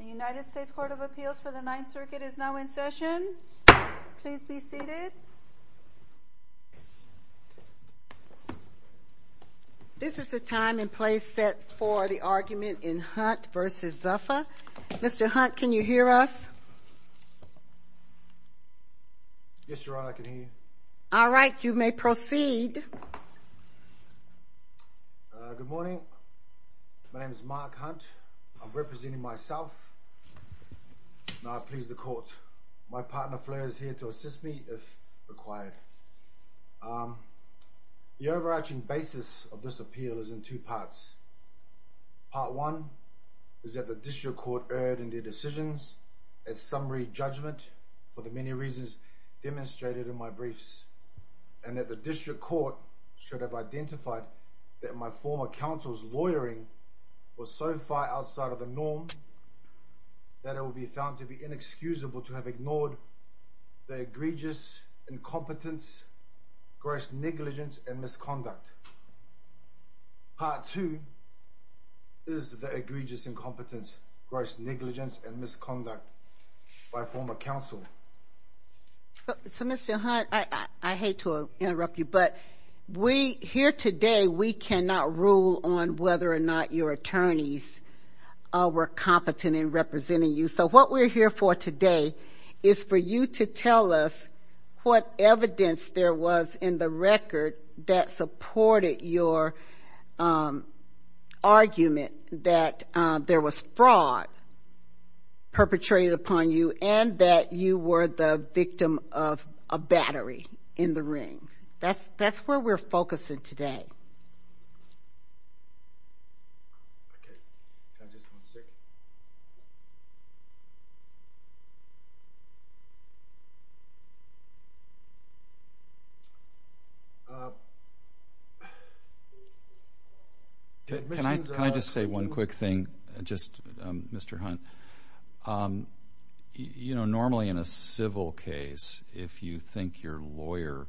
The United States Court of Appeals for the Ninth Circuit is now in session. Please be seated. This is the time and place set for the argument in Hunt v. Zuffa. Mr. Hunt, can you hear us? Yes, Your Honor, I can hear you. All right, you may proceed. Good morning. My name is Mark Hunt. I'm representing myself. Now, I please the court. My partner Fleur is here to assist me if required. The overarching basis of this appeal is in two parts. Part one is that the district court erred in their decisions. Its summary judgment, for the many reasons demonstrated in my briefs, and that the district court should have identified that my former counsel's lawyering was so far outside of the norm that it would be found to be inexcusable to have ignored the egregious incompetence, gross negligence, and misconduct. Part two is the egregious incompetence, gross negligence, and misconduct by a former counsel. So, Mr. Hunt, I hate to interrupt you, but here today we cannot rule on whether or not your attorneys were competent in representing you. So what we're here for today is for you to tell us what evidence there was in the record that supported your argument that there was fraud perpetrated upon you and that you were the victim of a battery in the ring. That's where we're focusing today. Can I just say one quick thing, just, Mr. Hunt? You know, normally in a civil case, if you think your lawyer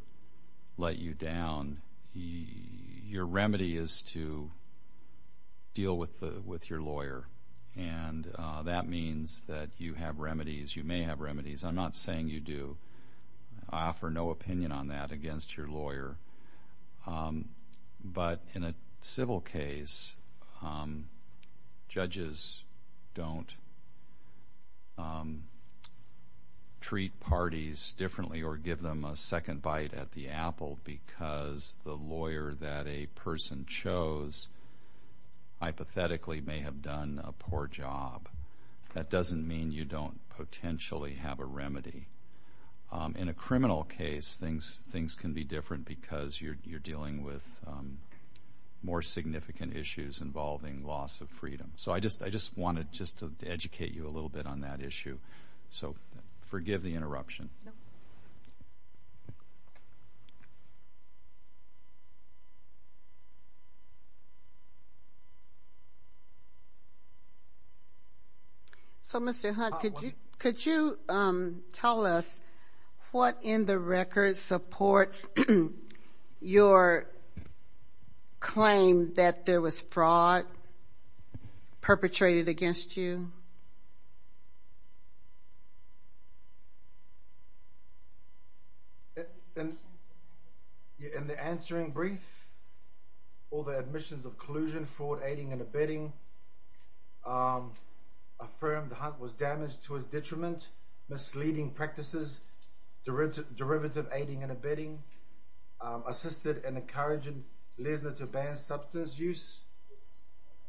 let you down, your remedy is to deal with your lawyer. And that means that you have remedies, you may have remedies. I'm not saying you do. I offer no opinion on that against your lawyer. But in a civil case, judges don't treat parties differently or give them a second bite at the apple because the lawyer that a person chose hypothetically may have done a poor job. That doesn't mean you don't potentially have a remedy. In a criminal case, things can be different because you're dealing with more significant issues involving loss of freedom. So I just wanted just to educate you a little bit on that issue. So forgive the interruption. So, Mr. Hunt, could you tell us what in the record supports your claim that there was fraud perpetrated against you? In the answering brief, all the admissions of collusion, fraud, aiding and abetting, affirmed Hunt was damaged to his detriment, misleading practices, derivative aiding and abetting, assisted and encouraging Lesner to ban substance use.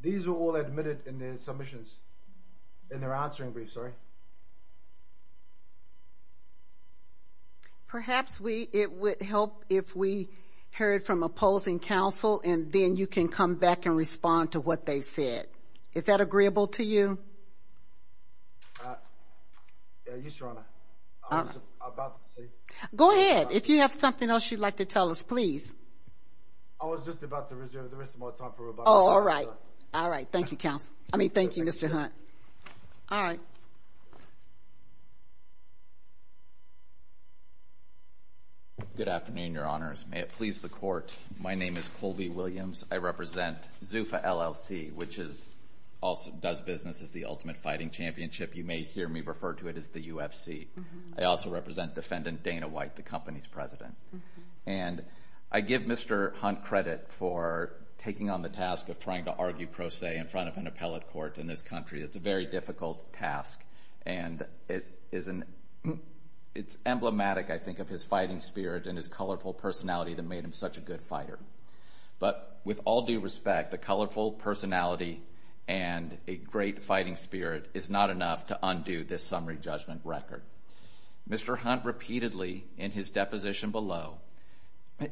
These were all admitted in their submissions in their answering brief. Sorry. Perhaps it would help if we heard from opposing counsel and then you can come back and respond to what they said. Is that agreeable to you? Yes, Your Honor. Go ahead. If you have something else you'd like to tell us, please. I was just about to reserve the rest of my time for rebuttal. Oh, all right. All right. Thank you, counsel. I mean, thank you, Mr. Hunt. All right. Good afternoon, Your Honors. May it please the Court, my name is Colby Williams. I represent ZUFA LLC, which does business as the Ultimate Fighting Championship. You may hear me refer to it as the UFC. I also represent Defendant Dana White, the company's president. And I give Mr. Hunt credit for taking on the task of trying to argue pro se in front of an appellate court in this country. It's a very difficult task and it's emblematic, I think, of his fighting spirit and his colorful personality that made him such a good fighter. But with all due respect, a colorful personality and a great fighting spirit is not enough to undo this summary judgment record. Mr. Hunt repeatedly, in his deposition below,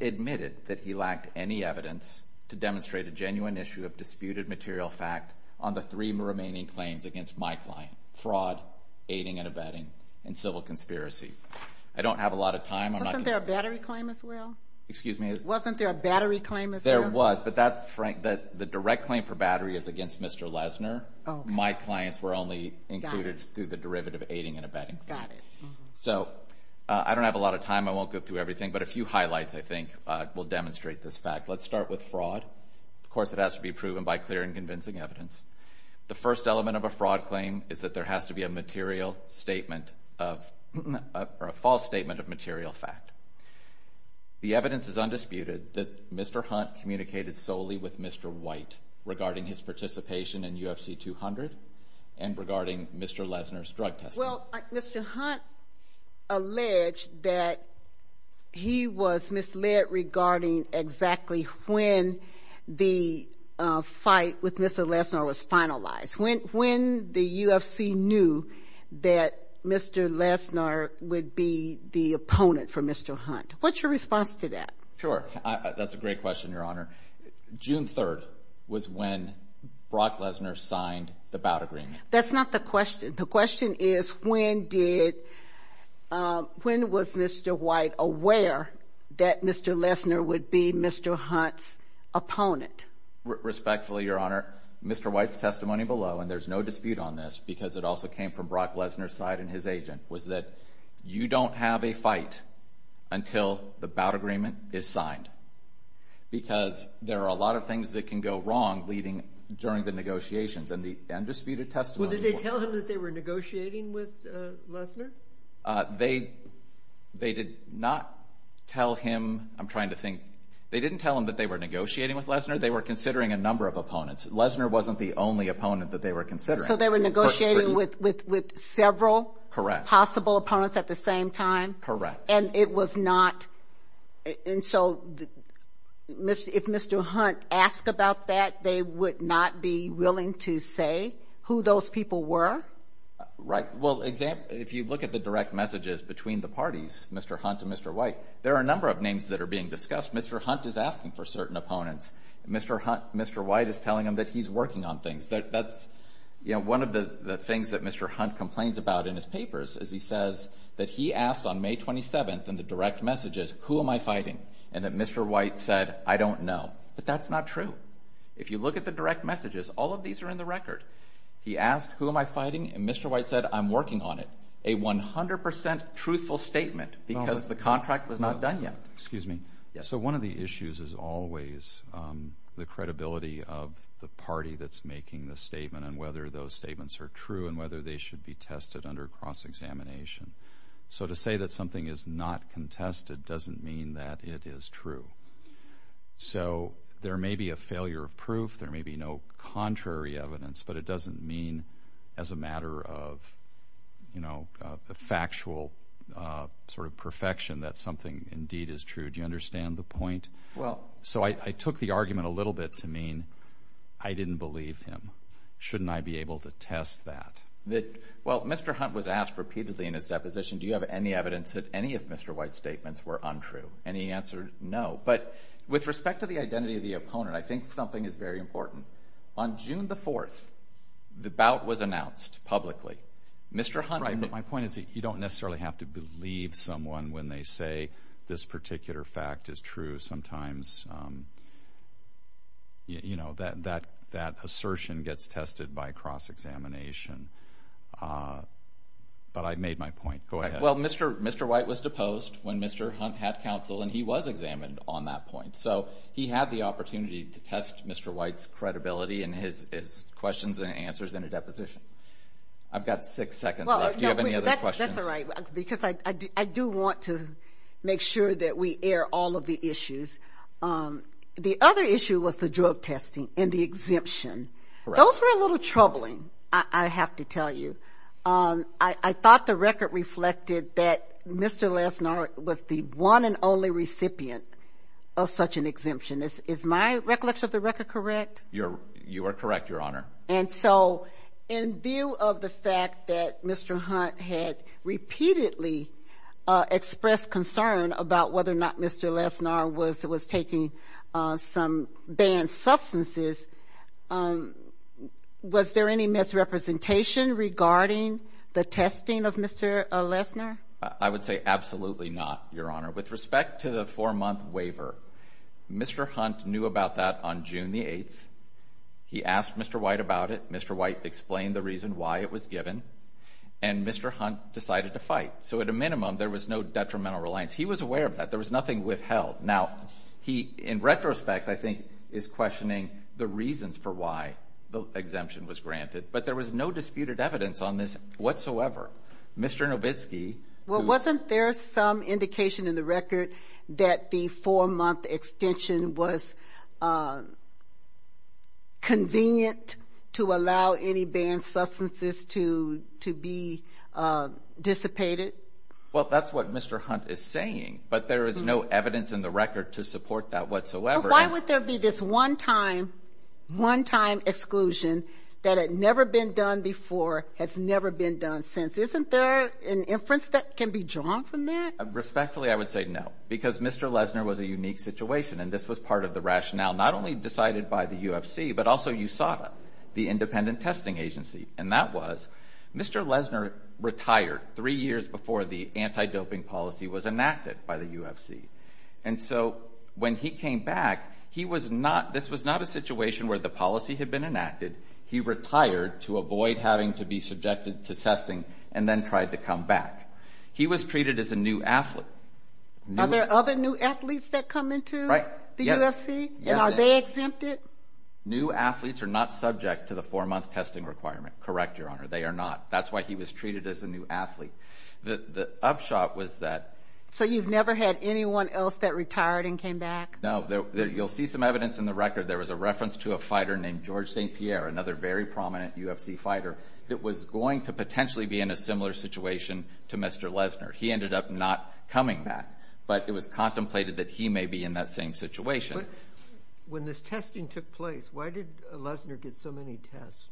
admitted that he lacked any evidence to demonstrate a genuine issue of disputed material fact on the three remaining claims against my client, fraud, aiding and abetting, and civil conspiracy. I don't have a lot of time. Wasn't there a battery claim as well? Excuse me? Wasn't there a battery claim as well? There was, but the direct claim for battery is against Mr. Lesner. My clients were only included through the derivative aiding and abetting. Got it. So, I don't have a lot of time. I won't go through everything, but a few highlights, I think, will demonstrate this fact. Let's start with fraud. Of course, it has to be proven by clear and convincing evidence. The first element of a fraud claim is that there has to be a material statement of, or a false statement of material fact. The evidence is undisputed that Mr. Hunt communicated solely with Mr. White regarding his participation in UFC 200 and regarding Mr. Lesner's drug testing. Well, Mr. Hunt alleged that he was misled regarding exactly when the fight with Mr. Lesner was finalized, when the UFC knew that Mr. Lesner would be the opponent for Mr. Hunt. What's your response to that? Sure. That's a great question, Your Honor. June 3rd was when Brock Lesner signed the bout agreement. That's not the question. The question is when was Mr. White aware that Mr. Lesner would be Mr. Hunt's opponent? Respectfully, Your Honor, Mr. White's testimony below, and there's no dispute on this because it also came from Brock Lesner's side and his agent, was that you don't have a fight until the bout agreement is signed because there are a lot of things that can go wrong during the negotiations. Well, did they tell him that they were negotiating with Lesner? They did not tell him. I'm trying to think. They didn't tell him that they were negotiating with Lesner. They were considering a number of opponents. Lesner wasn't the only opponent that they were considering. So they were negotiating with several possible opponents at the same time? Correct. And it was not, and so if Mr. Hunt asked about that, they would not be willing to say who those people were? Right. Well, if you look at the direct messages between the parties, Mr. Hunt and Mr. White, there are a number of names that are being discussed. Mr. Hunt is asking for certain opponents. Mr. White is telling him that he's working on things. That's one of the things that Mr. Hunt complains about in his papers is he says that he asked on May 27th in the direct messages, who am I fighting? And that Mr. White said, I don't know. But that's not true. If you look at the direct messages, all of these are in the record. He asked, who am I fighting? And Mr. White said, I'm working on it. A 100% truthful statement because the contract was not done yet. Excuse me. Yes. So one of the issues is always the credibility of the party that's making the statement and whether those statements are true and whether they should be tested under cross-examination. So to say that something is not contested doesn't mean that it is true. So there may be a failure of proof. There may be no contrary evidence, but it doesn't mean as a matter of factual sort of perfection that something indeed is true. Do you understand the point? Well. So I took the argument a little bit to mean I didn't believe him. Shouldn't I be able to test that? Well, Mr. Hunt was asked repeatedly in his deposition, do you have any evidence that any of Mr. White's statements were untrue? And he answered no. But with respect to the identity of the opponent, I think something is very important. On June 4th, the bout was announced publicly. Mr. Hunt. Right, but my point is that you don't necessarily have to believe someone when they say this particular fact is true. Sometimes, you know, that assertion gets tested by cross-examination. But I made my point. Go ahead. Well, Mr. White was deposed when Mr. Hunt had counsel, and he was examined on that point. So he had the opportunity to test Mr. White's credibility in his questions and answers in a deposition. I've got six seconds left. Do you have any other questions? That's all right, because I do want to make sure that we air all of the issues. The other issue was the drug testing and the exemption. Those were a little troubling, I have to tell you. I thought the record reflected that Mr. Lesnar was the one and only recipient of such an exemption. Is my recollection of the record correct? You are correct, Your Honor. And so in view of the fact that Mr. Hunt had repeatedly expressed concern about whether or not Mr. Lesnar was taking some banned substances, was there any misrepresentation regarding the testing of Mr. Lesnar? I would say absolutely not, Your Honor. With respect to the four-month waiver, Mr. Hunt knew about that on June the 8th. He asked Mr. White about it. Mr. White explained the reason why it was given. And Mr. Hunt decided to fight. So at a minimum, there was no detrimental reliance. He was aware of that. There was nothing withheld. Now, he, in retrospect, I think, is questioning the reasons for why the exemption was granted. But there was no disputed evidence on this whatsoever. Mr. Nowitzki. Well, wasn't there some indication in the record that the four-month extension was convenient to allow any banned substances to be dissipated? Well, that's what Mr. Hunt is saying. But there is no evidence in the record to support that whatsoever. Why would there be this one-time exclusion that had never been done before, has never been done since? Isn't there an inference that can be drawn from that? Respectfully, I would say no, because Mr. Lesner was a unique situation, and this was part of the rationale not only decided by the UFC, but also USADA, the independent testing agency. And that was Mr. Lesner retired three years before the anti-doping policy was enacted by the UFC. And so when he came back, this was not a situation where the policy had been enacted. He retired to avoid having to be subjected to testing and then tried to come back. He was treated as a new athlete. Are there other new athletes that come into the UFC? Yes. And are they exempted? New athletes are not subject to the four-month testing requirement. Correct, Your Honor. They are not. That's why he was treated as a new athlete. The upshot was that. So you've never had anyone else that retired and came back? No. You'll see some evidence in the record. There was a reference to a fighter named George St. Pierre, another very prominent UFC fighter, that was going to potentially be in a similar situation to Mr. Lesner. He ended up not coming back. But it was contemplated that he may be in that same situation. But when this testing took place, why did Lesner get so many tests?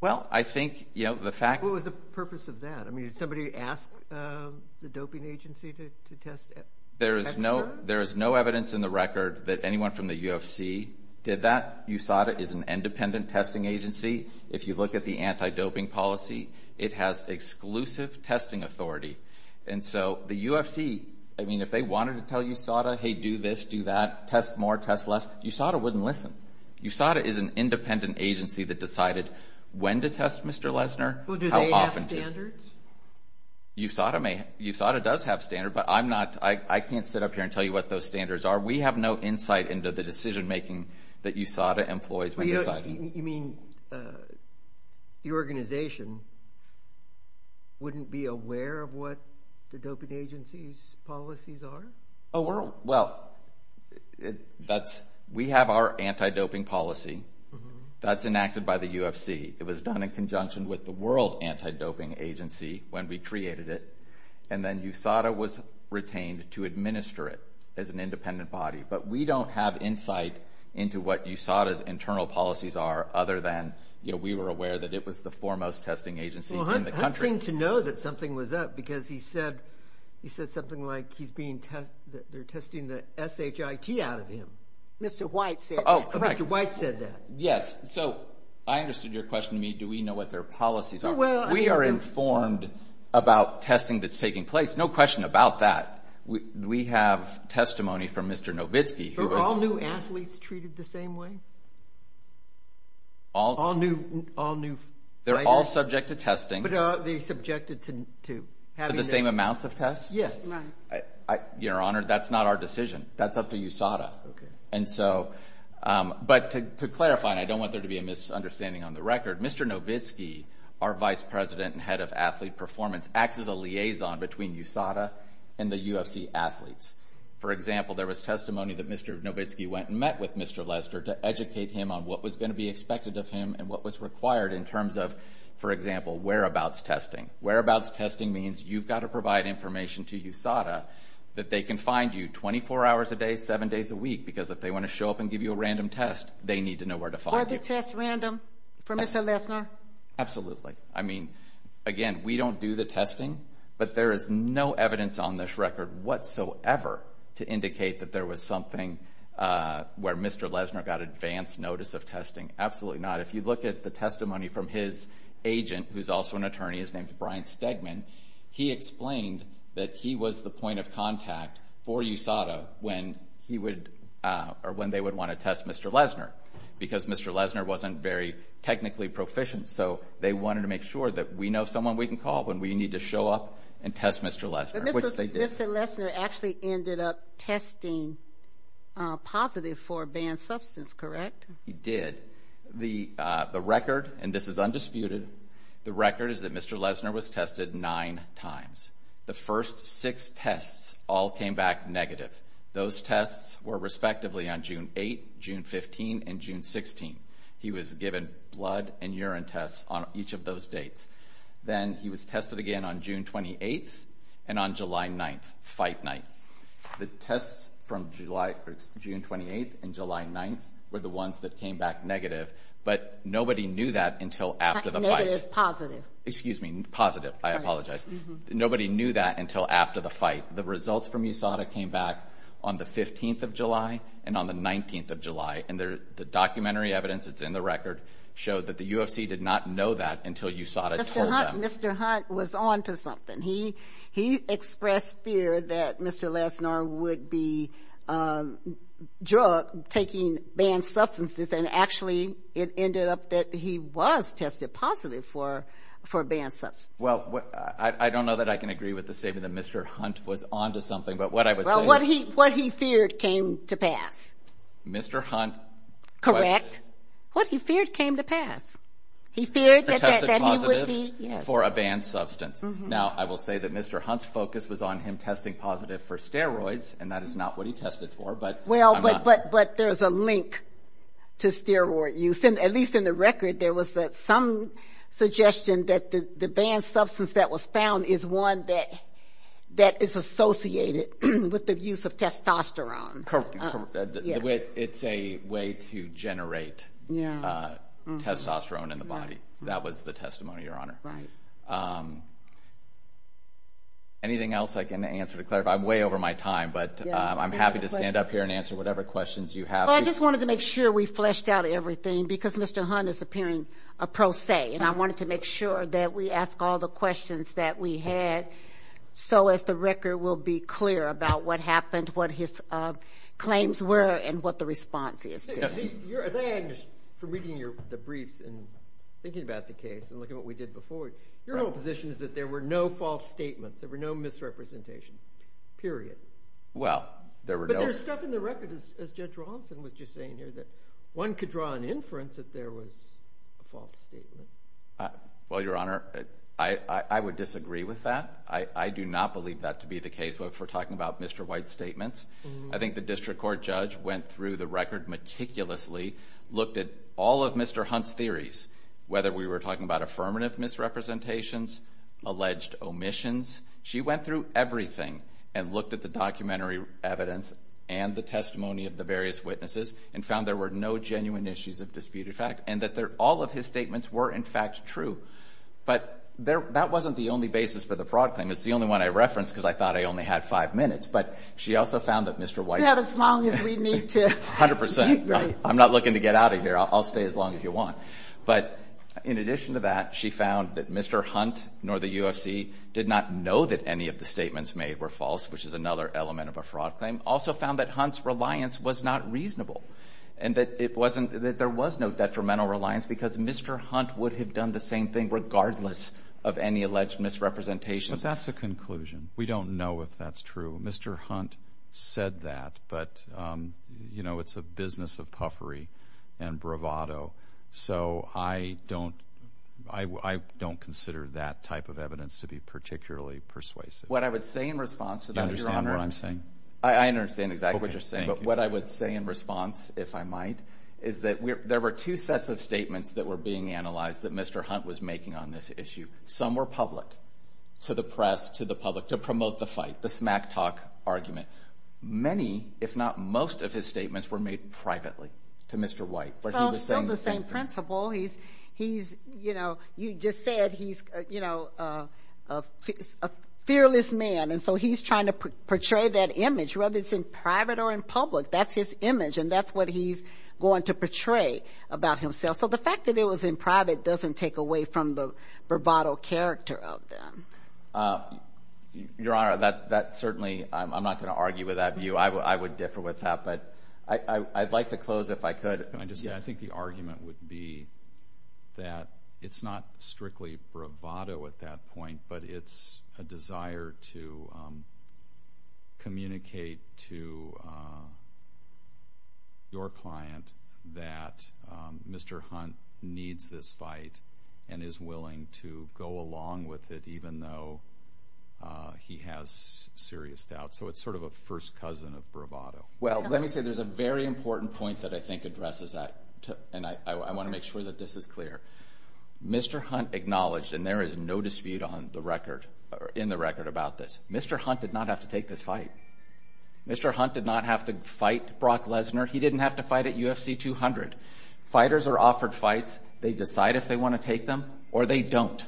Well, I think, you know, the fact— What was the purpose of that? I mean, did somebody ask the doping agency to test extra? There is no evidence in the record that anyone from the UFC did that. USADA is an independent testing agency. If you look at the anti-doping policy, it has exclusive testing authority. And so the UFC, I mean, if they wanted to tell USADA, hey, do this, do that, test more, test less, USADA wouldn't listen. USADA is an independent agency that decided when to test Mr. Lesner, how often to. Do they have standards? USADA does have standards, but I'm not—I can't sit up here and tell you what those standards are. We have no insight into the decision-making that USADA employs when deciding. You mean your organization wouldn't be aware of what the doping agency's policies are? Well, that's—we have our anti-doping policy. That's enacted by the UFC. It was done in conjunction with the World Anti-Doping Agency when we created it. And then USADA was retained to administer it as an independent body. But we don't have insight into what USADA's internal policies are other than we were aware that it was the foremost testing agency in the country. Well, Hunt seemed to know that something was up because he said something like he's being—they're testing the SHIT out of him. Mr. White said that. Oh, correct. Mr. White said that. Yes. So I understood your question to me. Do we know what their policies are? We are informed about testing that's taking place. No question about that. We have testimony from Mr. Nowitzki who was— Are all new athletes treated the same way? All new fighters? They're all subject to testing. But are they subjected to having— To the same amounts of tests? Yes. Your Honor, that's not our decision. That's up to USADA. Okay. But to clarify, and I don't want there to be a misunderstanding on the record, Mr. Nowitzki, our vice president and head of athlete performance, acts as a liaison between USADA and the UFC athletes. For example, there was testimony that Mr. Nowitzki went and met with Mr. Lester to educate him on what was going to be expected of him and what was required in terms of, for example, whereabouts testing. Whereabouts testing means you've got to provide information to USADA that they can find you 24 hours a day, 7 days a week, because if they want to show up and give you a random test, they need to know where to find you. Were the tests random for Mr. Lesner? Absolutely. I mean, again, we don't do the testing, but there is no evidence on this record whatsoever to indicate that there was something where Mr. Lesner got advance notice of testing. Absolutely not. If you look at the testimony from his agent, who's also an attorney, his name's Brian Stegman, he explained that he was the point of contact for USADA when they would want to test Mr. Lesner, because Mr. Lesner wasn't very technically proficient, so they wanted to make sure that we know someone we can call when we need to show up and test Mr. Lesner, which they did. Mr. Lesner actually ended up testing positive for banned substance, correct? He did. The record, and this is undisputed, the record is that Mr. Lesner was tested nine times. The first six tests all came back negative. Those tests were respectively on June 8th, June 15th, and June 16th. He was given blood and urine tests on each of those dates. Then he was tested again on June 28th and on July 9th, fight night. The tests from June 28th and July 9th were the ones that came back negative, but nobody knew that until after the fight. Negative, positive. Excuse me, positive. I apologize. Nobody knew that until after the fight. The results from USADA came back on the 15th of July and on the 19th of July, and the documentary evidence that's in the record showed that the UFC did not know that until USADA told them. Mr. Hunt was on to something. He expressed fear that Mr. Lesner would be drugged, taking banned substances, and actually it ended up that he was tested positive for a banned substance. Well, I don't know that I can agree with the statement that Mr. Hunt was on to something, but what I would say is... Well, what he feared came to pass. Mr. Hunt... Correct. What he feared came to pass. He feared that he would be... Tested positive for a banned substance. Now, I will say that Mr. Hunt's focus was on him testing positive for steroids, and that is not what he tested for, but... Well, but there's a link to steroid use. At least in the record, there was some suggestion that the banned substance that was found is one that is associated with the use of testosterone. It's a way to generate testosterone in the body. That was the testimony, Your Honor. Right. Anything else I can answer to clarify? I'm way over my time, but I'm happy to stand up here and answer whatever questions you have. Well, I just wanted to make sure we fleshed out everything, because Mr. Hunt is appearing a pro se, and I wanted to make sure that we asked all the questions that we had, so as the record will be clear about what happened, what his claims were, and what the response is. As I understand from reading the briefs and thinking about the case and looking at what we did before, your whole position is that there were no false statements. There were no misrepresentations, period. Well, there were no... But there's stuff in the record, as Judge Rawlinson was just saying here, that one could draw an inference that there was a false statement. Well, Your Honor, I would disagree with that. I do not believe that to be the case, but if we're talking about Mr. White's statements, I think the district court judge went through the record meticulously, looked at all of Mr. Hunt's theories, whether we were talking about affirmative misrepresentations, alleged omissions. She went through everything and looked at the documentary evidence and the testimony of the various witnesses and found there were no genuine issues of disputed fact and that all of his statements were, in fact, true. But that wasn't the only basis for the fraud claim. It's the only one I referenced because I thought I only had five minutes, but she also found that Mr. White... You have as long as we need to. A hundred percent. I'm not looking to get out of here. I'll stay as long as you want. But in addition to that, she found that Mr. Hunt nor the UFC did not know that any of the statements made were false, which is another element of a fraud claim. Also found that Hunt's reliance was not reasonable and that there was no detrimental reliance because Mr. Hunt would have done the same thing regardless of any alleged misrepresentations. But that's a conclusion. We don't know if that's true. Mr. Hunt said that, but, you know, it's a business of puffery and bravado. So I don't consider that type of evidence to be particularly persuasive. What I would say in response to that, Your Honor... Do you understand what I'm saying? I understand exactly what you're saying. Okay, thank you. But what I would say in response, if I might, is that there were two sets of statements that were being analyzed that Mr. Hunt was making on this issue. Some were public to the press, to the public, to promote the fight, the smack talk argument. Many, if not most, of his statements were made privately to Mr. White. But he was saying the same thing. Still the same principle. He's, you know, you just said he's, you know, a fearless man, and so he's trying to portray that image whether it's in private or in public. That's his image, and that's what he's going to portray about himself. So the fact that it was in private doesn't take away from the bravado character of them. Your Honor, that certainly, I'm not going to argue with that view. I would differ with that. But I'd like to close, if I could. Can I just say, I think the argument would be that it's not strictly bravado at that point, but it's a desire to communicate to your client that Mr. Hunt needs this fight and is willing to go along with it even though he has serious doubts. So it's sort of a first cousin of bravado. Well, let me say there's a very important point that I think addresses that, and I want to make sure that this is clear. Mr. Hunt acknowledged, and there is no dispute in the record about this, Mr. Hunt did not have to take this fight. Mr. Hunt did not have to fight Brock Lesnar. He didn't have to fight at UFC 200. Fighters are offered fights. They decide if they want to take them or they don't.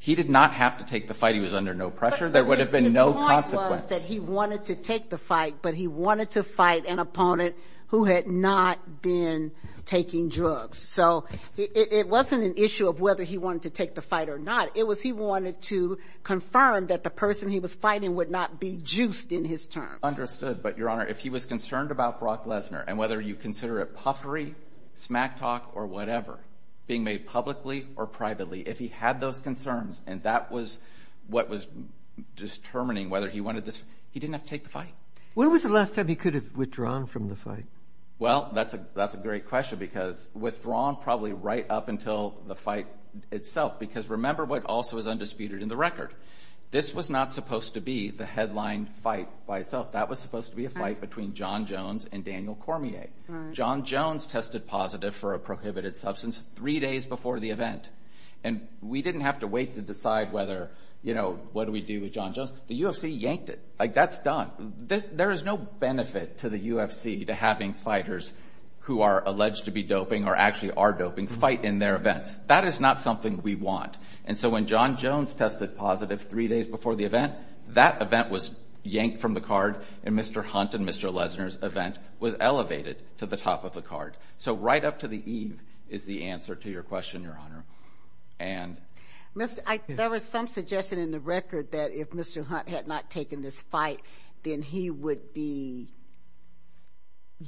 He did not have to take the fight. He was under no pressure. There would have been no consequence. But his point was that he wanted to take the fight, but he wanted to fight an opponent who had not been taking drugs. So it wasn't an issue of whether he wanted to take the fight or not. It was he wanted to confirm that the person he was fighting would not be juiced in his terms. Understood. But, Your Honor, if he was concerned about Brock Lesnar, and whether you consider it puffery, smack talk, or whatever, being made publicly or privately, if he had those concerns and that was what was determining whether he wanted this, he didn't have to take the fight. When was the last time he could have withdrawn from the fight? Well, that's a great question because withdrawn probably right up until the fight itself because remember what also is undisputed in the record. This was not supposed to be the headline fight by itself. That was supposed to be a fight between Jon Jones and Daniel Cormier. Jon Jones tested positive for a prohibited substance three days before the event, and we didn't have to wait to decide what do we do with Jon Jones. The UFC yanked it. That's done. There is no benefit to the UFC to having fighters who are alleged to be doping or actually are doping fight in their events. That is not something we want. And so when Jon Jones tested positive three days before the event, that event was yanked from the card, and Mr. Hunt and Mr. Lesnar's event was elevated to the top of the card. So right up to the eve is the answer to your question, Your Honor. There was some suggestion in the record that if Mr. Hunt had not taken this fight, then he would be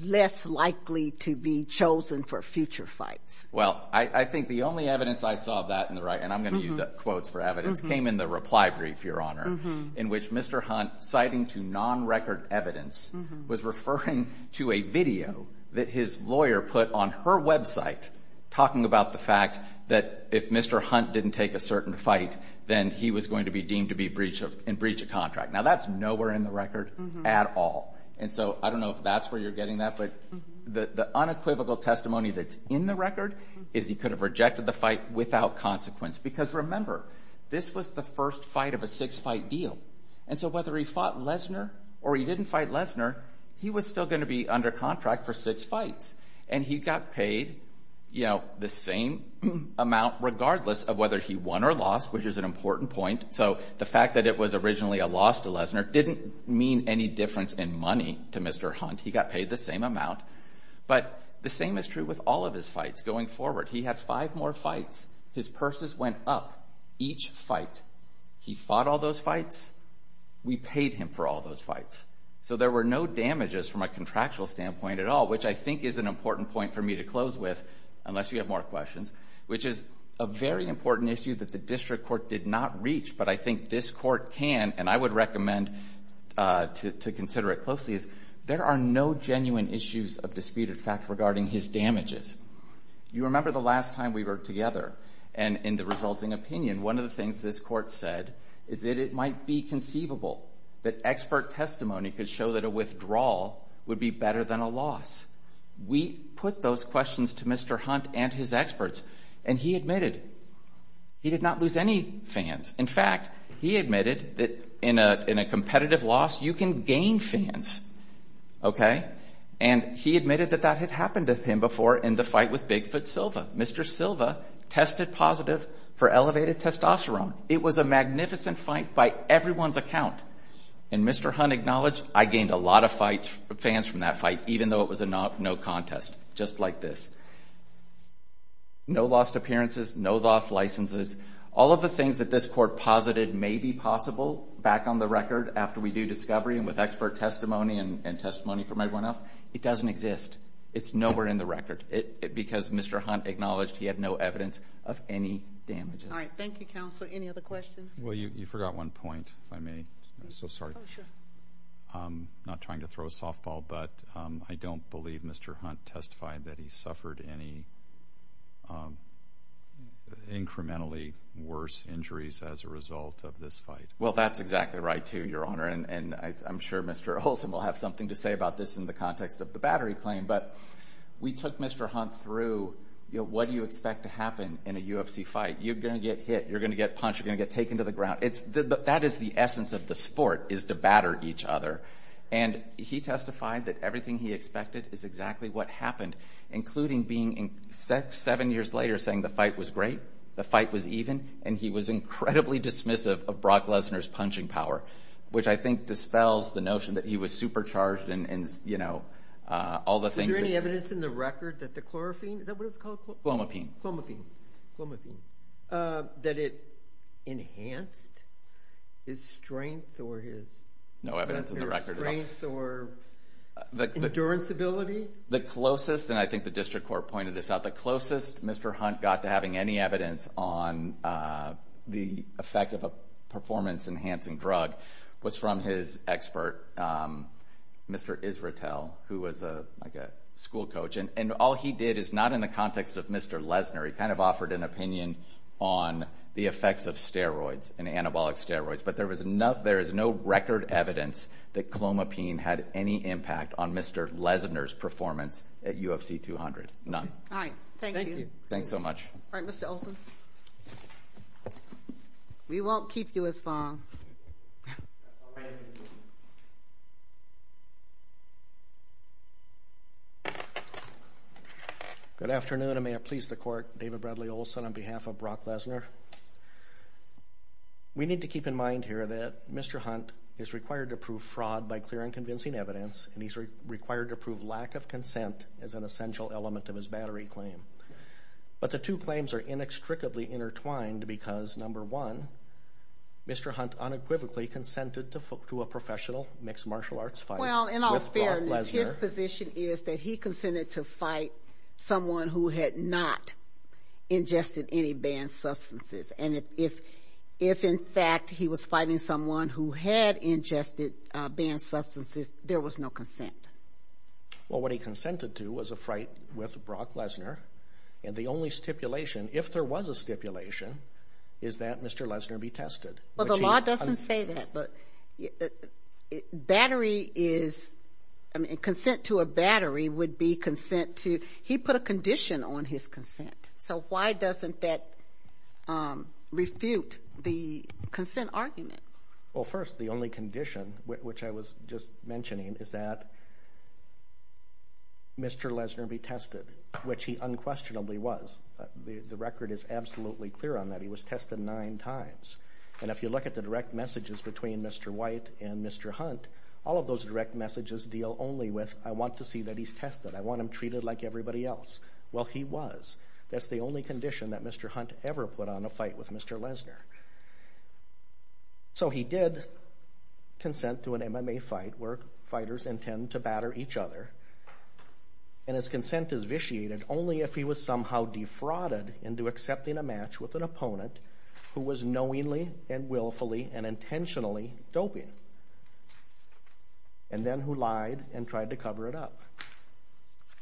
less likely to be chosen for future fights. Well, I think the only evidence I saw of that in the right, and I'm going to use quotes for evidence, came in the reply brief, Your Honor, in which Mr. Hunt citing to non-record evidence was referring to a video that his lawyer put on her website talking about the fact that if Mr. Hunt didn't take a certain fight, then he was going to be deemed to be in breach of contract. Now, that's nowhere in the record at all. And so I don't know if that's where you're getting that, but the unequivocal testimony that's in the record is he could have rejected the fight without consequence because, remember, this was the first fight of a six-fight deal. And so whether he fought Lesnar or he didn't fight Lesnar, he was still going to be under contract for six fights. And he got paid, you know, the same amount, regardless of whether he won or lost, which is an important point. So the fact that it was originally a loss to Lesnar didn't mean any difference in money to Mr. Hunt. He got paid the same amount. But the same is true with all of his fights going forward. He had five more fights. His purses went up each fight. He fought all those fights. We paid him for all those fights. So there were no damages from a contractual standpoint at all, which I think is an important point for me to close with, unless you have more questions, which is a very important issue that the district court did not reach, but I think this court can, and I would recommend to consider it closely, is there are no genuine issues of disputed fact regarding his damages. You remember the last time we were together, and in the resulting opinion, one of the things this court said is that it might be conceivable that expert testimony could show that a withdrawal would be better than a loss. We put those questions to Mr. Hunt and his experts, and he admitted he did not lose any fans. In fact, he admitted that in a competitive loss, you can gain fans. And he admitted that that had happened to him before in the fight with Bigfoot Silva. Mr. Silva tested positive for elevated testosterone. It was a magnificent fight by everyone's account, and Mr. Hunt acknowledged I gained a lot of fans from that fight, even though it was a no contest, just like this. No lost appearances, no lost licenses. All of the things that this court posited may be possible back on the record after we do discovery and with expert testimony and testimony from everyone else, it doesn't exist. It's nowhere in the record because Mr. Hunt acknowledged he had no evidence of any damages. All right, thank you, counsel. Any other questions? Well, you forgot one point, if I may. I'm so sorry. I'm not trying to throw a softball, but I don't believe Mr. Hunt testified that he suffered any incrementally worse injuries as a result of this fight. Well, that's exactly right, too, Your Honor, and I'm sure Mr. Olson will have something to say about this in the context of the battery claim, but we took Mr. Hunt through what do you expect to happen in a UFC fight. You're going to get hit. You're going to get punched. You're going to get taken to the ground. That is the essence of the sport is to batter each other, and he testified that everything he expected is exactly what happened, including being seven years later saying the fight was great, the fight was even, and he was incredibly dismissive of Brock Lesnar's punching power, which I think dispels the notion that he was supercharged and, you know, all the things. Is there any evidence in the record that the chlorophene? Is that what it's called? Chlomapine. Chlomapine. That it enhanced his strength or his strength or endurance ability? The closest, and I think the district court pointed this out, the closest Mr. Hunt got to having any evidence on the effect of a performance-enhancing drug was from his expert, Mr. Isratel, who was like a school coach, and all he did is not in the context of Mr. Lesnar. He kind of offered an opinion on the effects of steroids and anabolic steroids, but there is no record evidence that chlomapine had any impact on Mr. Lesnar's performance at UFC 200. None. All right, thank you. Thank you. Thanks so much. All right, Mr. Olson. We won't keep you as long. All right. Good afternoon, and may it please the court. David Bradley Olson on behalf of Brock Lesnar. We need to keep in mind here that Mr. Hunt is required to prove fraud by clear and convincing evidence, and he's required to prove lack of consent as an essential element of his battery claim. But the two claims are inextricably intertwined because, number one, Mr. Hunt unequivocally consented to a professional mixed martial arts fight with Brock Lesnar. Well, in all fairness, his position is that he consented to fight someone who had not ingested any banned substances, and if, in fact, he was fighting someone who had ingested banned substances, there was no consent. Well, what he consented to was a fight with Brock Lesnar, and the only stipulation, if there was a stipulation, is that Mr. Lesnar be tested. Well, the law doesn't say that, but battery is, I mean, consent to a battery would be consent to, he put a condition on his consent, so why doesn't that refute the consent argument? Well, first, the only condition, which I was just mentioning, is that Mr. Lesnar be tested, which he unquestionably was. The record is absolutely clear on that. He was tested nine times, and if you look at the direct messages between Mr. White and Mr. Hunt, all of those direct messages deal only with, I want to see that he's tested. I want him treated like everybody else. Well, he was. That's the only condition that Mr. Hunt ever put on a fight with Mr. Lesnar. So he did consent to an MMA fight where fighters intend to batter each other, and his consent is vitiated only if he was somehow defrauded into accepting a match with an opponent who was knowingly and willfully and intentionally doping, and then who lied and tried to cover it up,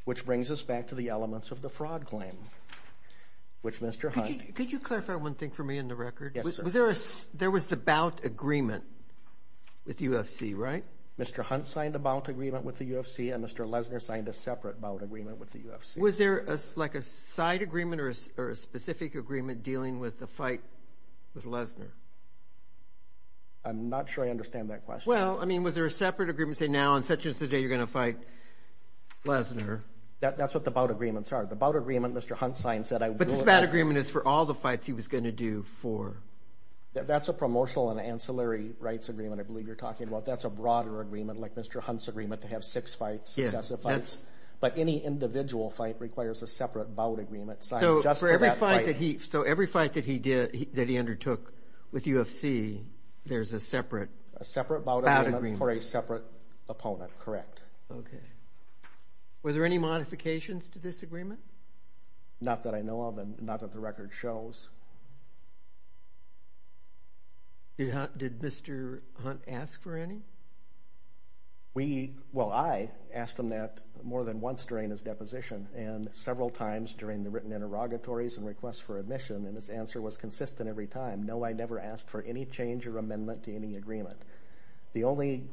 which brings us back to the elements of the fraud claim, which Mr. Hunt. Could you clarify one thing for me in the record? Yes, sir. There was the bout agreement with UFC, right? Mr. Hunt signed a bout agreement with the UFC, and Mr. Lesnar signed a separate bout agreement with the UFC. Was there like a side agreement or a specific agreement dealing with the fight with Lesnar? I'm not sure I understand that question. Well, I mean, was there a separate agreement, say, now on such and such a day you're going to fight Lesnar? That's what the bout agreements are. The bout agreement Mr. Hunt signed said I would do it. But this bout agreement is for all the fights he was going to do for. That's a promotional and ancillary rights agreement I believe you're talking about. That's a broader agreement like Mr. Hunt's agreement to have six fights, successive fights. But any individual fight requires a separate bout agreement signed just for that fight. So every fight that he undertook with UFC, there's a separate? A separate bout agreement for a separate opponent, correct. Were there any modifications to this agreement? Not that I know of and not that the record shows. Did Mr. Hunt ask for any? Well, I asked him that more than once during his deposition and several times during the written interrogatories and requests for admission, and his answer was consistent every time. No, I never asked for any change or amendment to any agreement. The only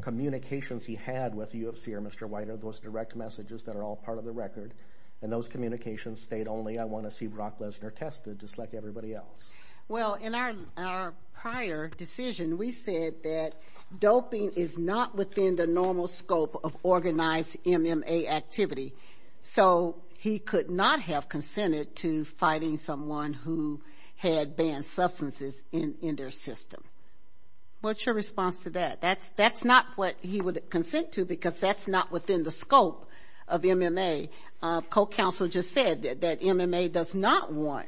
communications he had with UFC or Mr. White are those direct messages that are all part of the record, and those communications state only I want to see Brock Lesnar tested just like everybody else. Well, in our prior decision we said that doping is not within the normal scope of organized MMA activity. So he could not have consented to fighting someone who had banned substances in their system. What's your response to that? That's not what he would consent to because that's not within the scope of MMA. Co-counsel just said that MMA does not want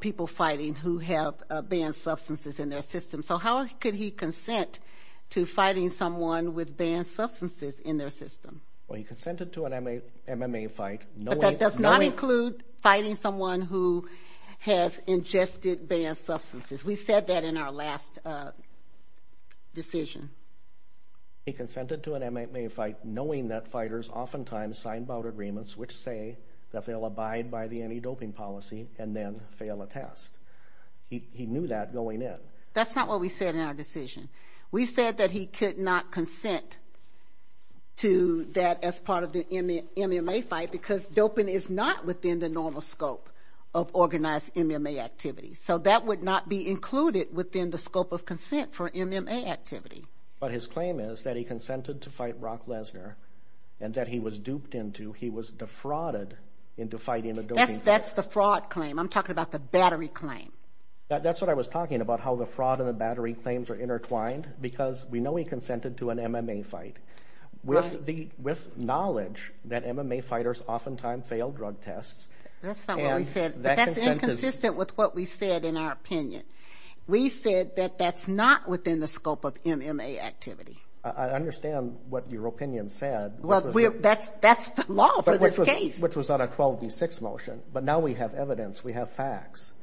people fighting who have banned substances in their system. So how could he consent to fighting someone with banned substances in their system? Well, he consented to an MMA fight. But that does not include fighting someone who has ingested banned substances. We said that in our last decision. He consented to an MMA fight knowing that fighters oftentimes sign about agreements which say that they'll abide by the anti-doping policy and then fail a test. He knew that going in. That's not what we said in our decision. We said that he could not consent to that as part of the MMA fight because doping is not within the normal scope of organized MMA activity. So that would not be included within the scope of consent for MMA activity. But his claim is that he consented to fight Brock Lesnar and that he was duped into, he was defrauded into fighting a doping fighter. That's the fraud claim. I'm talking about the battery claim. That's what I was talking about, how the fraud and the battery claims are intertwined because we know he consented to an MMA fight with knowledge that MMA fighters oftentimes fail drug tests. That's not what we said. But that's inconsistent with what we said in our opinion. We said that that's not within the scope of MMA activity. I understand what your opinion said. That's the law for this case. Which was on a 12B6 motion. But now we have evidence. We have facts.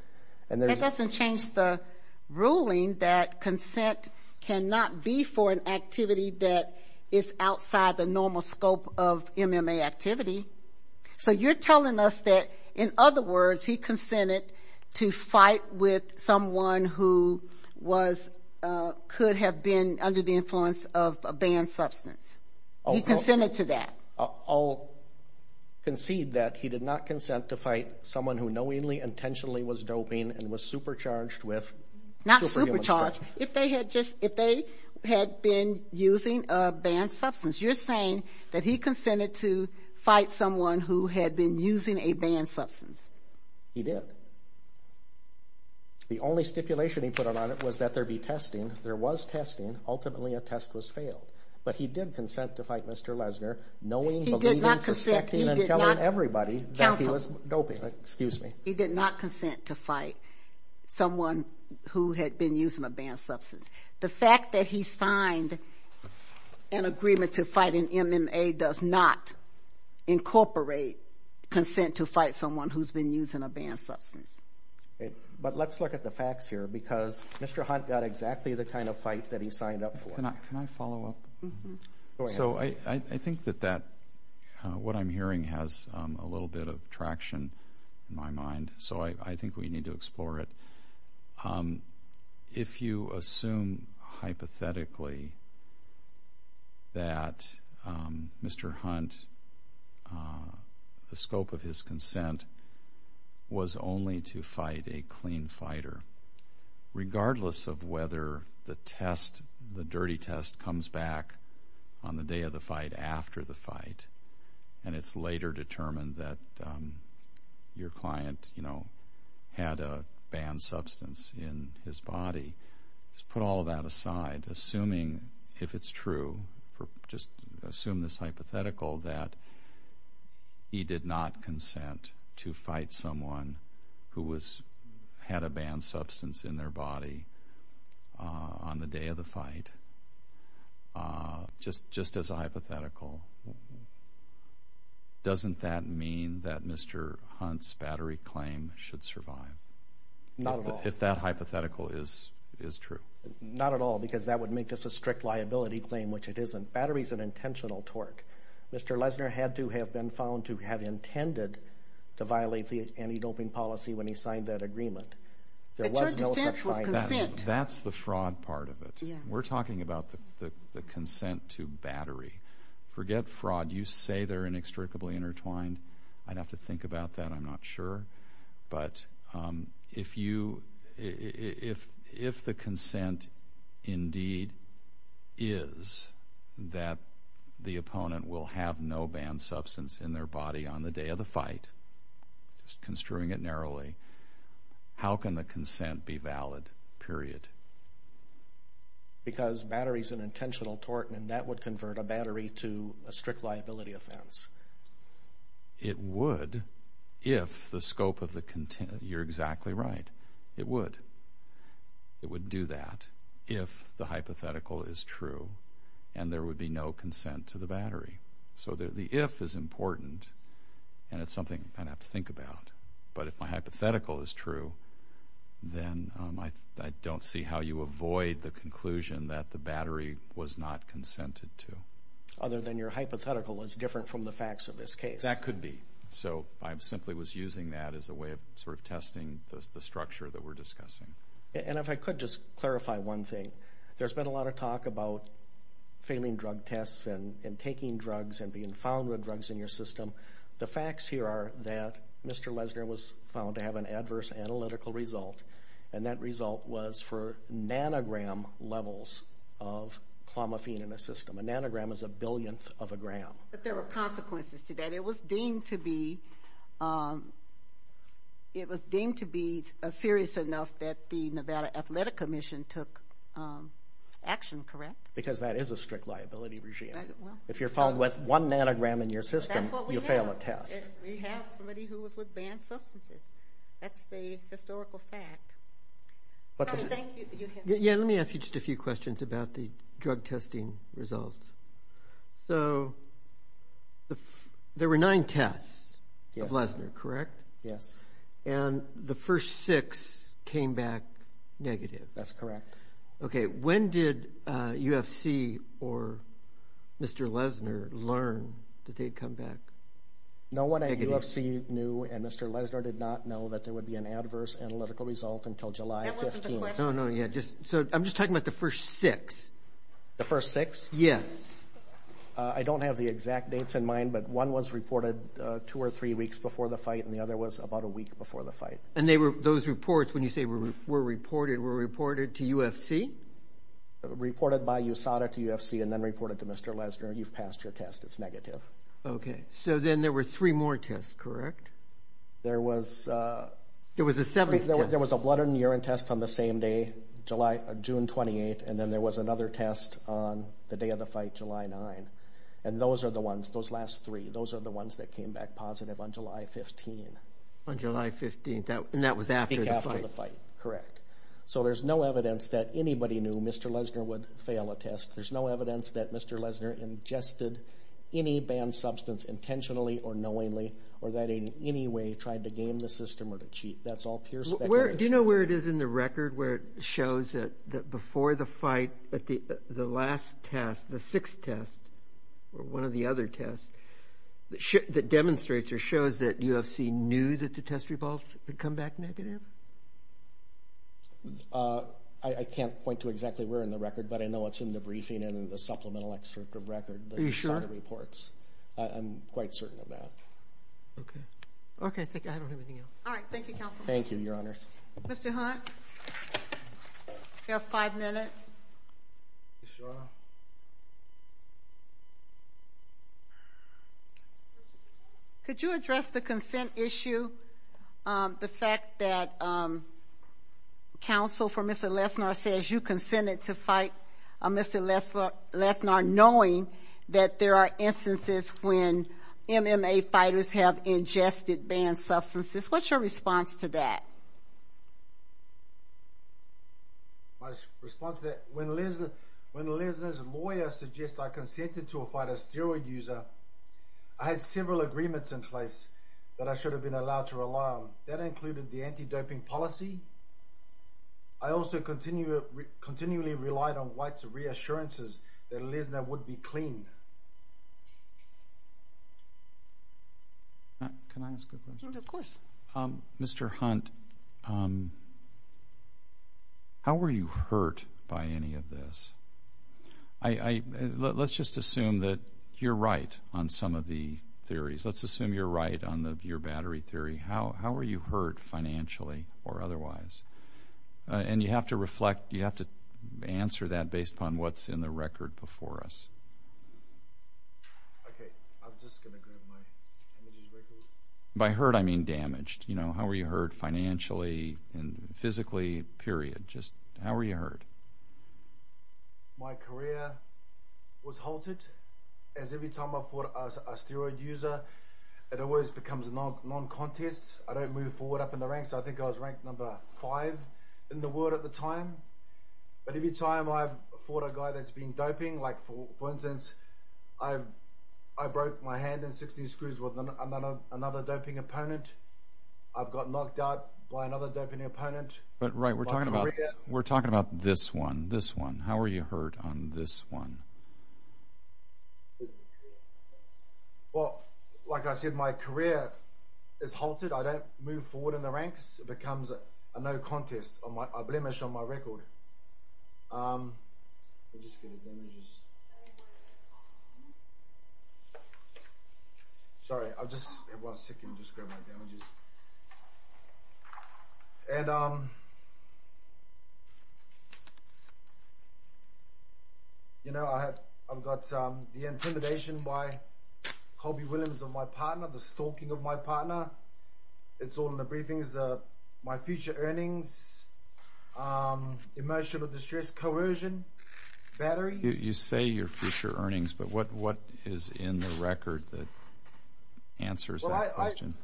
That doesn't change the ruling that consent cannot be for an activity that is outside the normal scope of MMA activity. So you're telling us that, in other words, he consented to fight with someone who could have been under the influence of a banned substance. He consented to that. I'll concede that he did not consent to fight someone who knowingly, intentionally was doping and was supercharged with superhuman strength. Not supercharged. If they had been using a banned substance. You're saying that he consented to fight someone who had been using a banned substance. He did. The only stipulation he put on it was that there be testing. There was testing. Ultimately, a test was failed. But he did consent to fight Mr. Lesner knowing, believing, suspecting, and telling everybody that he was doping. He did not consent to fight someone who had been using a banned substance. The fact that he signed an agreement to fight an MMA does not incorporate consent to fight someone who's been using a banned substance. But let's look at the facts here because Mr. Hunt got exactly the kind of fight that he signed up for. Can I follow up? So I think that what I'm hearing has a little bit of traction in my mind. So I think we need to explore it. If you assume hypothetically that Mr. Hunt, the scope of his consent was only to fight a clean fighter, regardless of whether the test, the dirty test, comes back on the day of the fight, after the fight, and it's later determined that your client had a banned substance in his body, just put all of that aside, assuming if it's true, just assume this hypothetical that he did not consent to fight someone who had a banned substance in their body on the day of the fight, just as a hypothetical, doesn't that mean that Mr. Hunt's battery claim should survive? Not at all. If that hypothetical is true. Not at all because that would make this a strict liability claim, which it isn't. The battery is an intentional tort. Mr. Lesner had to have been found to have intended to violate the anti-doping policy when he signed that agreement. But your defense was consent. That's the fraud part of it. We're talking about the consent to battery. Forget fraud. You say they're inextricably intertwined. I'd have to think about that. I'm not sure. But if the consent indeed is that the opponent will have no banned substance in their body on the day of the fight, just construing it narrowly, how can the consent be valid, period? Because battery is an intentional tort, and that would convert a battery to a strict liability offense. It would if the scope of the content—you're exactly right. It would. It would do that if the hypothetical is true and there would be no consent to the battery. So the if is important, and it's something I'd have to think about. But if my hypothetical is true, then I don't see how you avoid the conclusion that the battery was not consented to. Other than your hypothetical is different from the facts of this case. That could be. So I simply was using that as a way of sort of testing the structure that we're discussing. And if I could just clarify one thing. There's been a lot of talk about failing drug tests and taking drugs and being found with drugs in your system. The facts here are that Mr. Lesner was found to have an adverse analytical result, and that result was for nanogram levels of clomiphene in the system. A nanogram is a billionth of a gram. But there were consequences to that. It was deemed to be serious enough that the Nevada Athletic Commission took action, correct? Because that is a strict liability regime. If you're found with one nanogram in your system, you fail a test. We have somebody who was with banned substances. That's the historical fact. Yeah, let me ask you just a few questions about the drug testing results. So there were nine tests of Lesner, correct? Yes. And the first six came back negative. That's correct. Okay. When did UFC or Mr. Lesner learn that they'd come back negative? No one at UFC knew, and Mr. Lesner did not know, that there would be an adverse analytical result until July 15th. That wasn't the question. No, no, yeah. So I'm just talking about the first six. The first six? Yes. I don't have the exact dates in mind, but one was reported two or three weeks before the fight, and the other was about a week before the fight. And those reports, when you say were reported, were reported to UFC? Reported by USADA to UFC and then reported to Mr. Lesner. You've passed your test. It's negative. Okay. So then there were three more tests, correct? There was a seventh test. There was a blood and urine test on the same day, June 28th, and then there was another test on the day of the fight, July 9th. And those are the ones, those last three, those are the ones that came back positive on July 15th. On July 15th, and that was after the fight. I think after the fight, correct. So there's no evidence that anybody knew Mr. Lesner would fail a test. There's no evidence that Mr. Lesner ingested any banned substance intentionally or knowingly or that in any way tried to game the system or to cheat. That's all pure speculation. Do you know where it is in the record where it shows that before the fight, the last test, the sixth test, or one of the other tests, that demonstrates or shows that UFC knew that the test results had come back negative? I can't point to exactly where in the record, but I know it's in the briefing and in the supplemental excerpt of record. Are you sure? I'm quite certain of that. Okay. Okay, thank you. I don't have anything else. All right, thank you, Counsel. Thank you, Your Honor. Mr. Hunt, you have five minutes. Yes, Your Honor. Could you address the consent issue, the fact that counsel for Mr. Lesner says you consented to fight Mr. Lesner knowing that there are instances when MMA fighters have ingested banned substances? What's your response to that? My response to that, when Lesner's lawyer suggests I consented to a fight a steroid user, I had several agreements in place that I should have been allowed to rely on. That included the anti-doping policy. I also continually relied on White's reassurances that Lesner would be cleaned. Can I ask a question? Of course. Mr. Hunt, how were you hurt by any of this? Let's just assume that you're right on some of the theories. Let's assume you're right on your battery theory. How were you hurt financially or otherwise? And you have to reflect, you have to answer that based upon what's in the record before us. Okay, I'm just going to grab my energy drink. By hurt, I mean damaged. How were you hurt financially and physically, period? How were you hurt? My career was halted. Every time I fought a steroid user, it always becomes a non-contest. I don't move forward up in the ranks. I think I was ranked number five in the world at the time. But every time I've fought a guy that's been doping, like, for instance, I broke my hand in 16 screws with another doping opponent. I've got knocked out by another doping opponent. But, right, we're talking about this one, this one. How were you hurt on this one? Well, like I said, my career is halted. I don't move forward in the ranks. It becomes a no-contest, a blemish on my record. I'll just get my damages. Sorry, I was just sick and just grabbed my damages. You know, I've got the intimidation by Colby Williams of my partner, the stalking of my partner. It's all in the briefings. This is my future earnings, emotional distress, coercion, battery. You say your future earnings, but what is in the record that answers that question?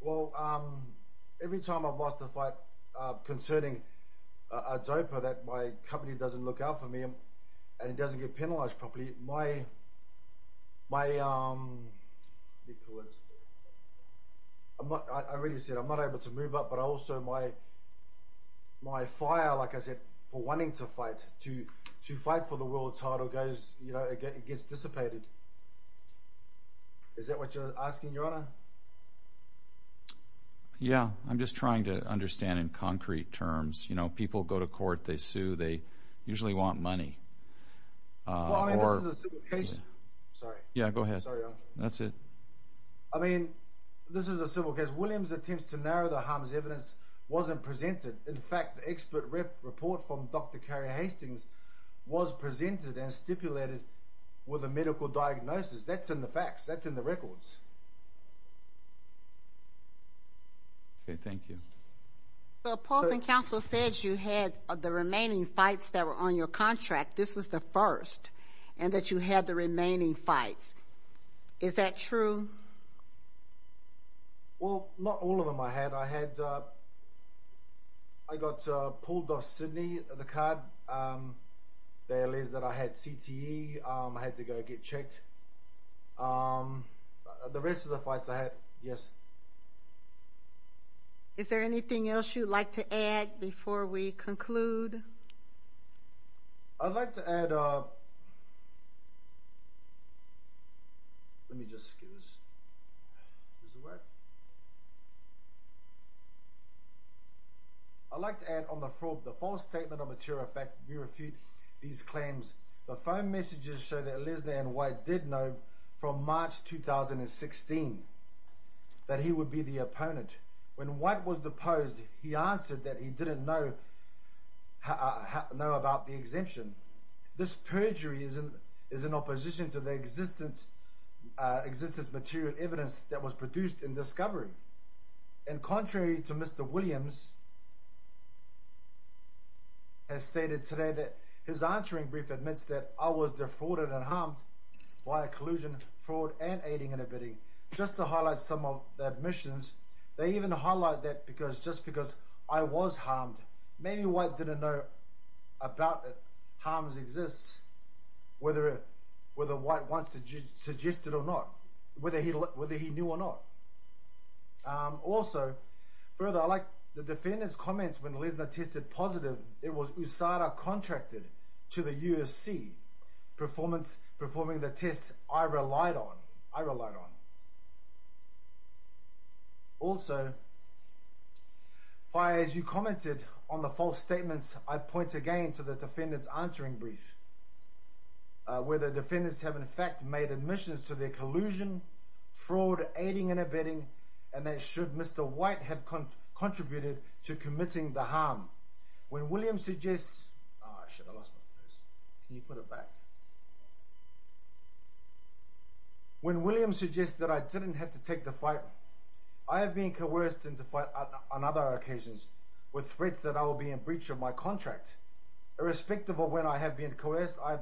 Well, every time I've lost a fight concerning a doper that my company doesn't look out for me and it doesn't get penalized properly, I really said I'm not able to move up, but also my fire, like I said, for wanting to fight, to fight for the world title, it gets dissipated. Is that what you're asking, Your Honor? Yeah, I'm just trying to understand in concrete terms. You know, people go to court, they sue, they usually want money. Well, I mean, this is a civil case. Sorry. Yeah, go ahead. That's it. I mean, this is a civil case. Williams' attempts to narrow the harm's evidence wasn't presented. In fact, the expert report from Dr. Carrie Hastings was presented and stipulated with a medical diagnosis. That's in the facts. That's in the records. Okay, thank you. The opposing counsel said you had the remaining fights that were on your contract. This was the first, and that you had the remaining fights. Is that true? Well, not all of them I had. I got pulled off Sydney, the card. They alleged that I had CTE. I had to go get checked. The rest of the fights I had, yes. Is there anything else you'd like to add before we conclude? I'd like to add... Let me just get this out of the way. I'd like to add on the fraud, the false statement of material effect, we refute these claims. The phone messages show that Elizabeth Ann White did know from March 2016. That he would be the opponent. When White was deposed, he answered that he didn't know about the exemption. This perjury is in opposition to the existence of material evidence that was produced in discovery. And contrary to Mr. Williams, has stated today that his answering brief admits that I was defrauded and harmed by collusion, fraud, and aiding and abetting. Just to highlight some of the admissions, they even highlight that just because I was harmed, maybe White didn't know about it. Harm exists whether White wants to suggest it or not. Whether he knew or not. Also, further, I like the defendant's comments when Lesnar tested positive. It was USADA contracted to the USC, performing the test I relied on. Also, as you commented on the false statements, I point again to the defendant's answering brief. Where the defendants have in fact made admissions to their collusion, fraud, aiding and abetting, and that should Mr. White have contributed to committing the harm. When Williams suggests... When Williams suggests that I didn't have to take the fight, I have been coerced into fight on other occasions with threats that I will be in breach of my contract. Irrespective of when I have been coerced, I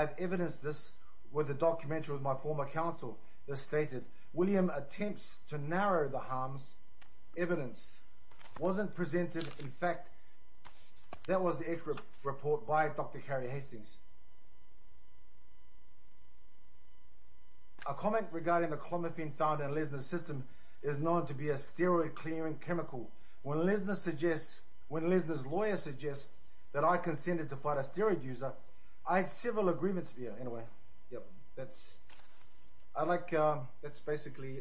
have evidenced this with a documentary with my former counsel that stated, William attempts to narrow the harms evidenced. Wasn't presented, in fact, that was the expert report by Dr. Carrie Hastings. A comment regarding the clomiphene found in Lesnar's system is known to be a steroid clearing chemical. When Lesnar's lawyer suggests that I consented to fight a steroid user, I have several agreements... Anyway, yep, that's... I like... That's basically...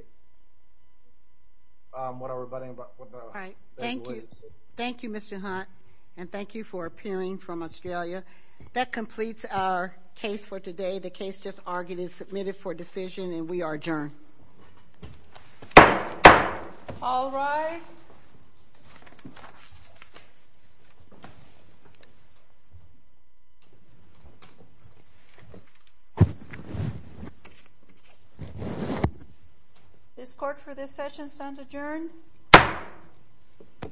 Whatever, but... All right, thank you. Thank you, Mr. Hunt, and thank you for appearing from Australia. That completes our case for today. The case just argued is submitted for decision, and we are adjourned. All rise. This court for this session stands adjourned.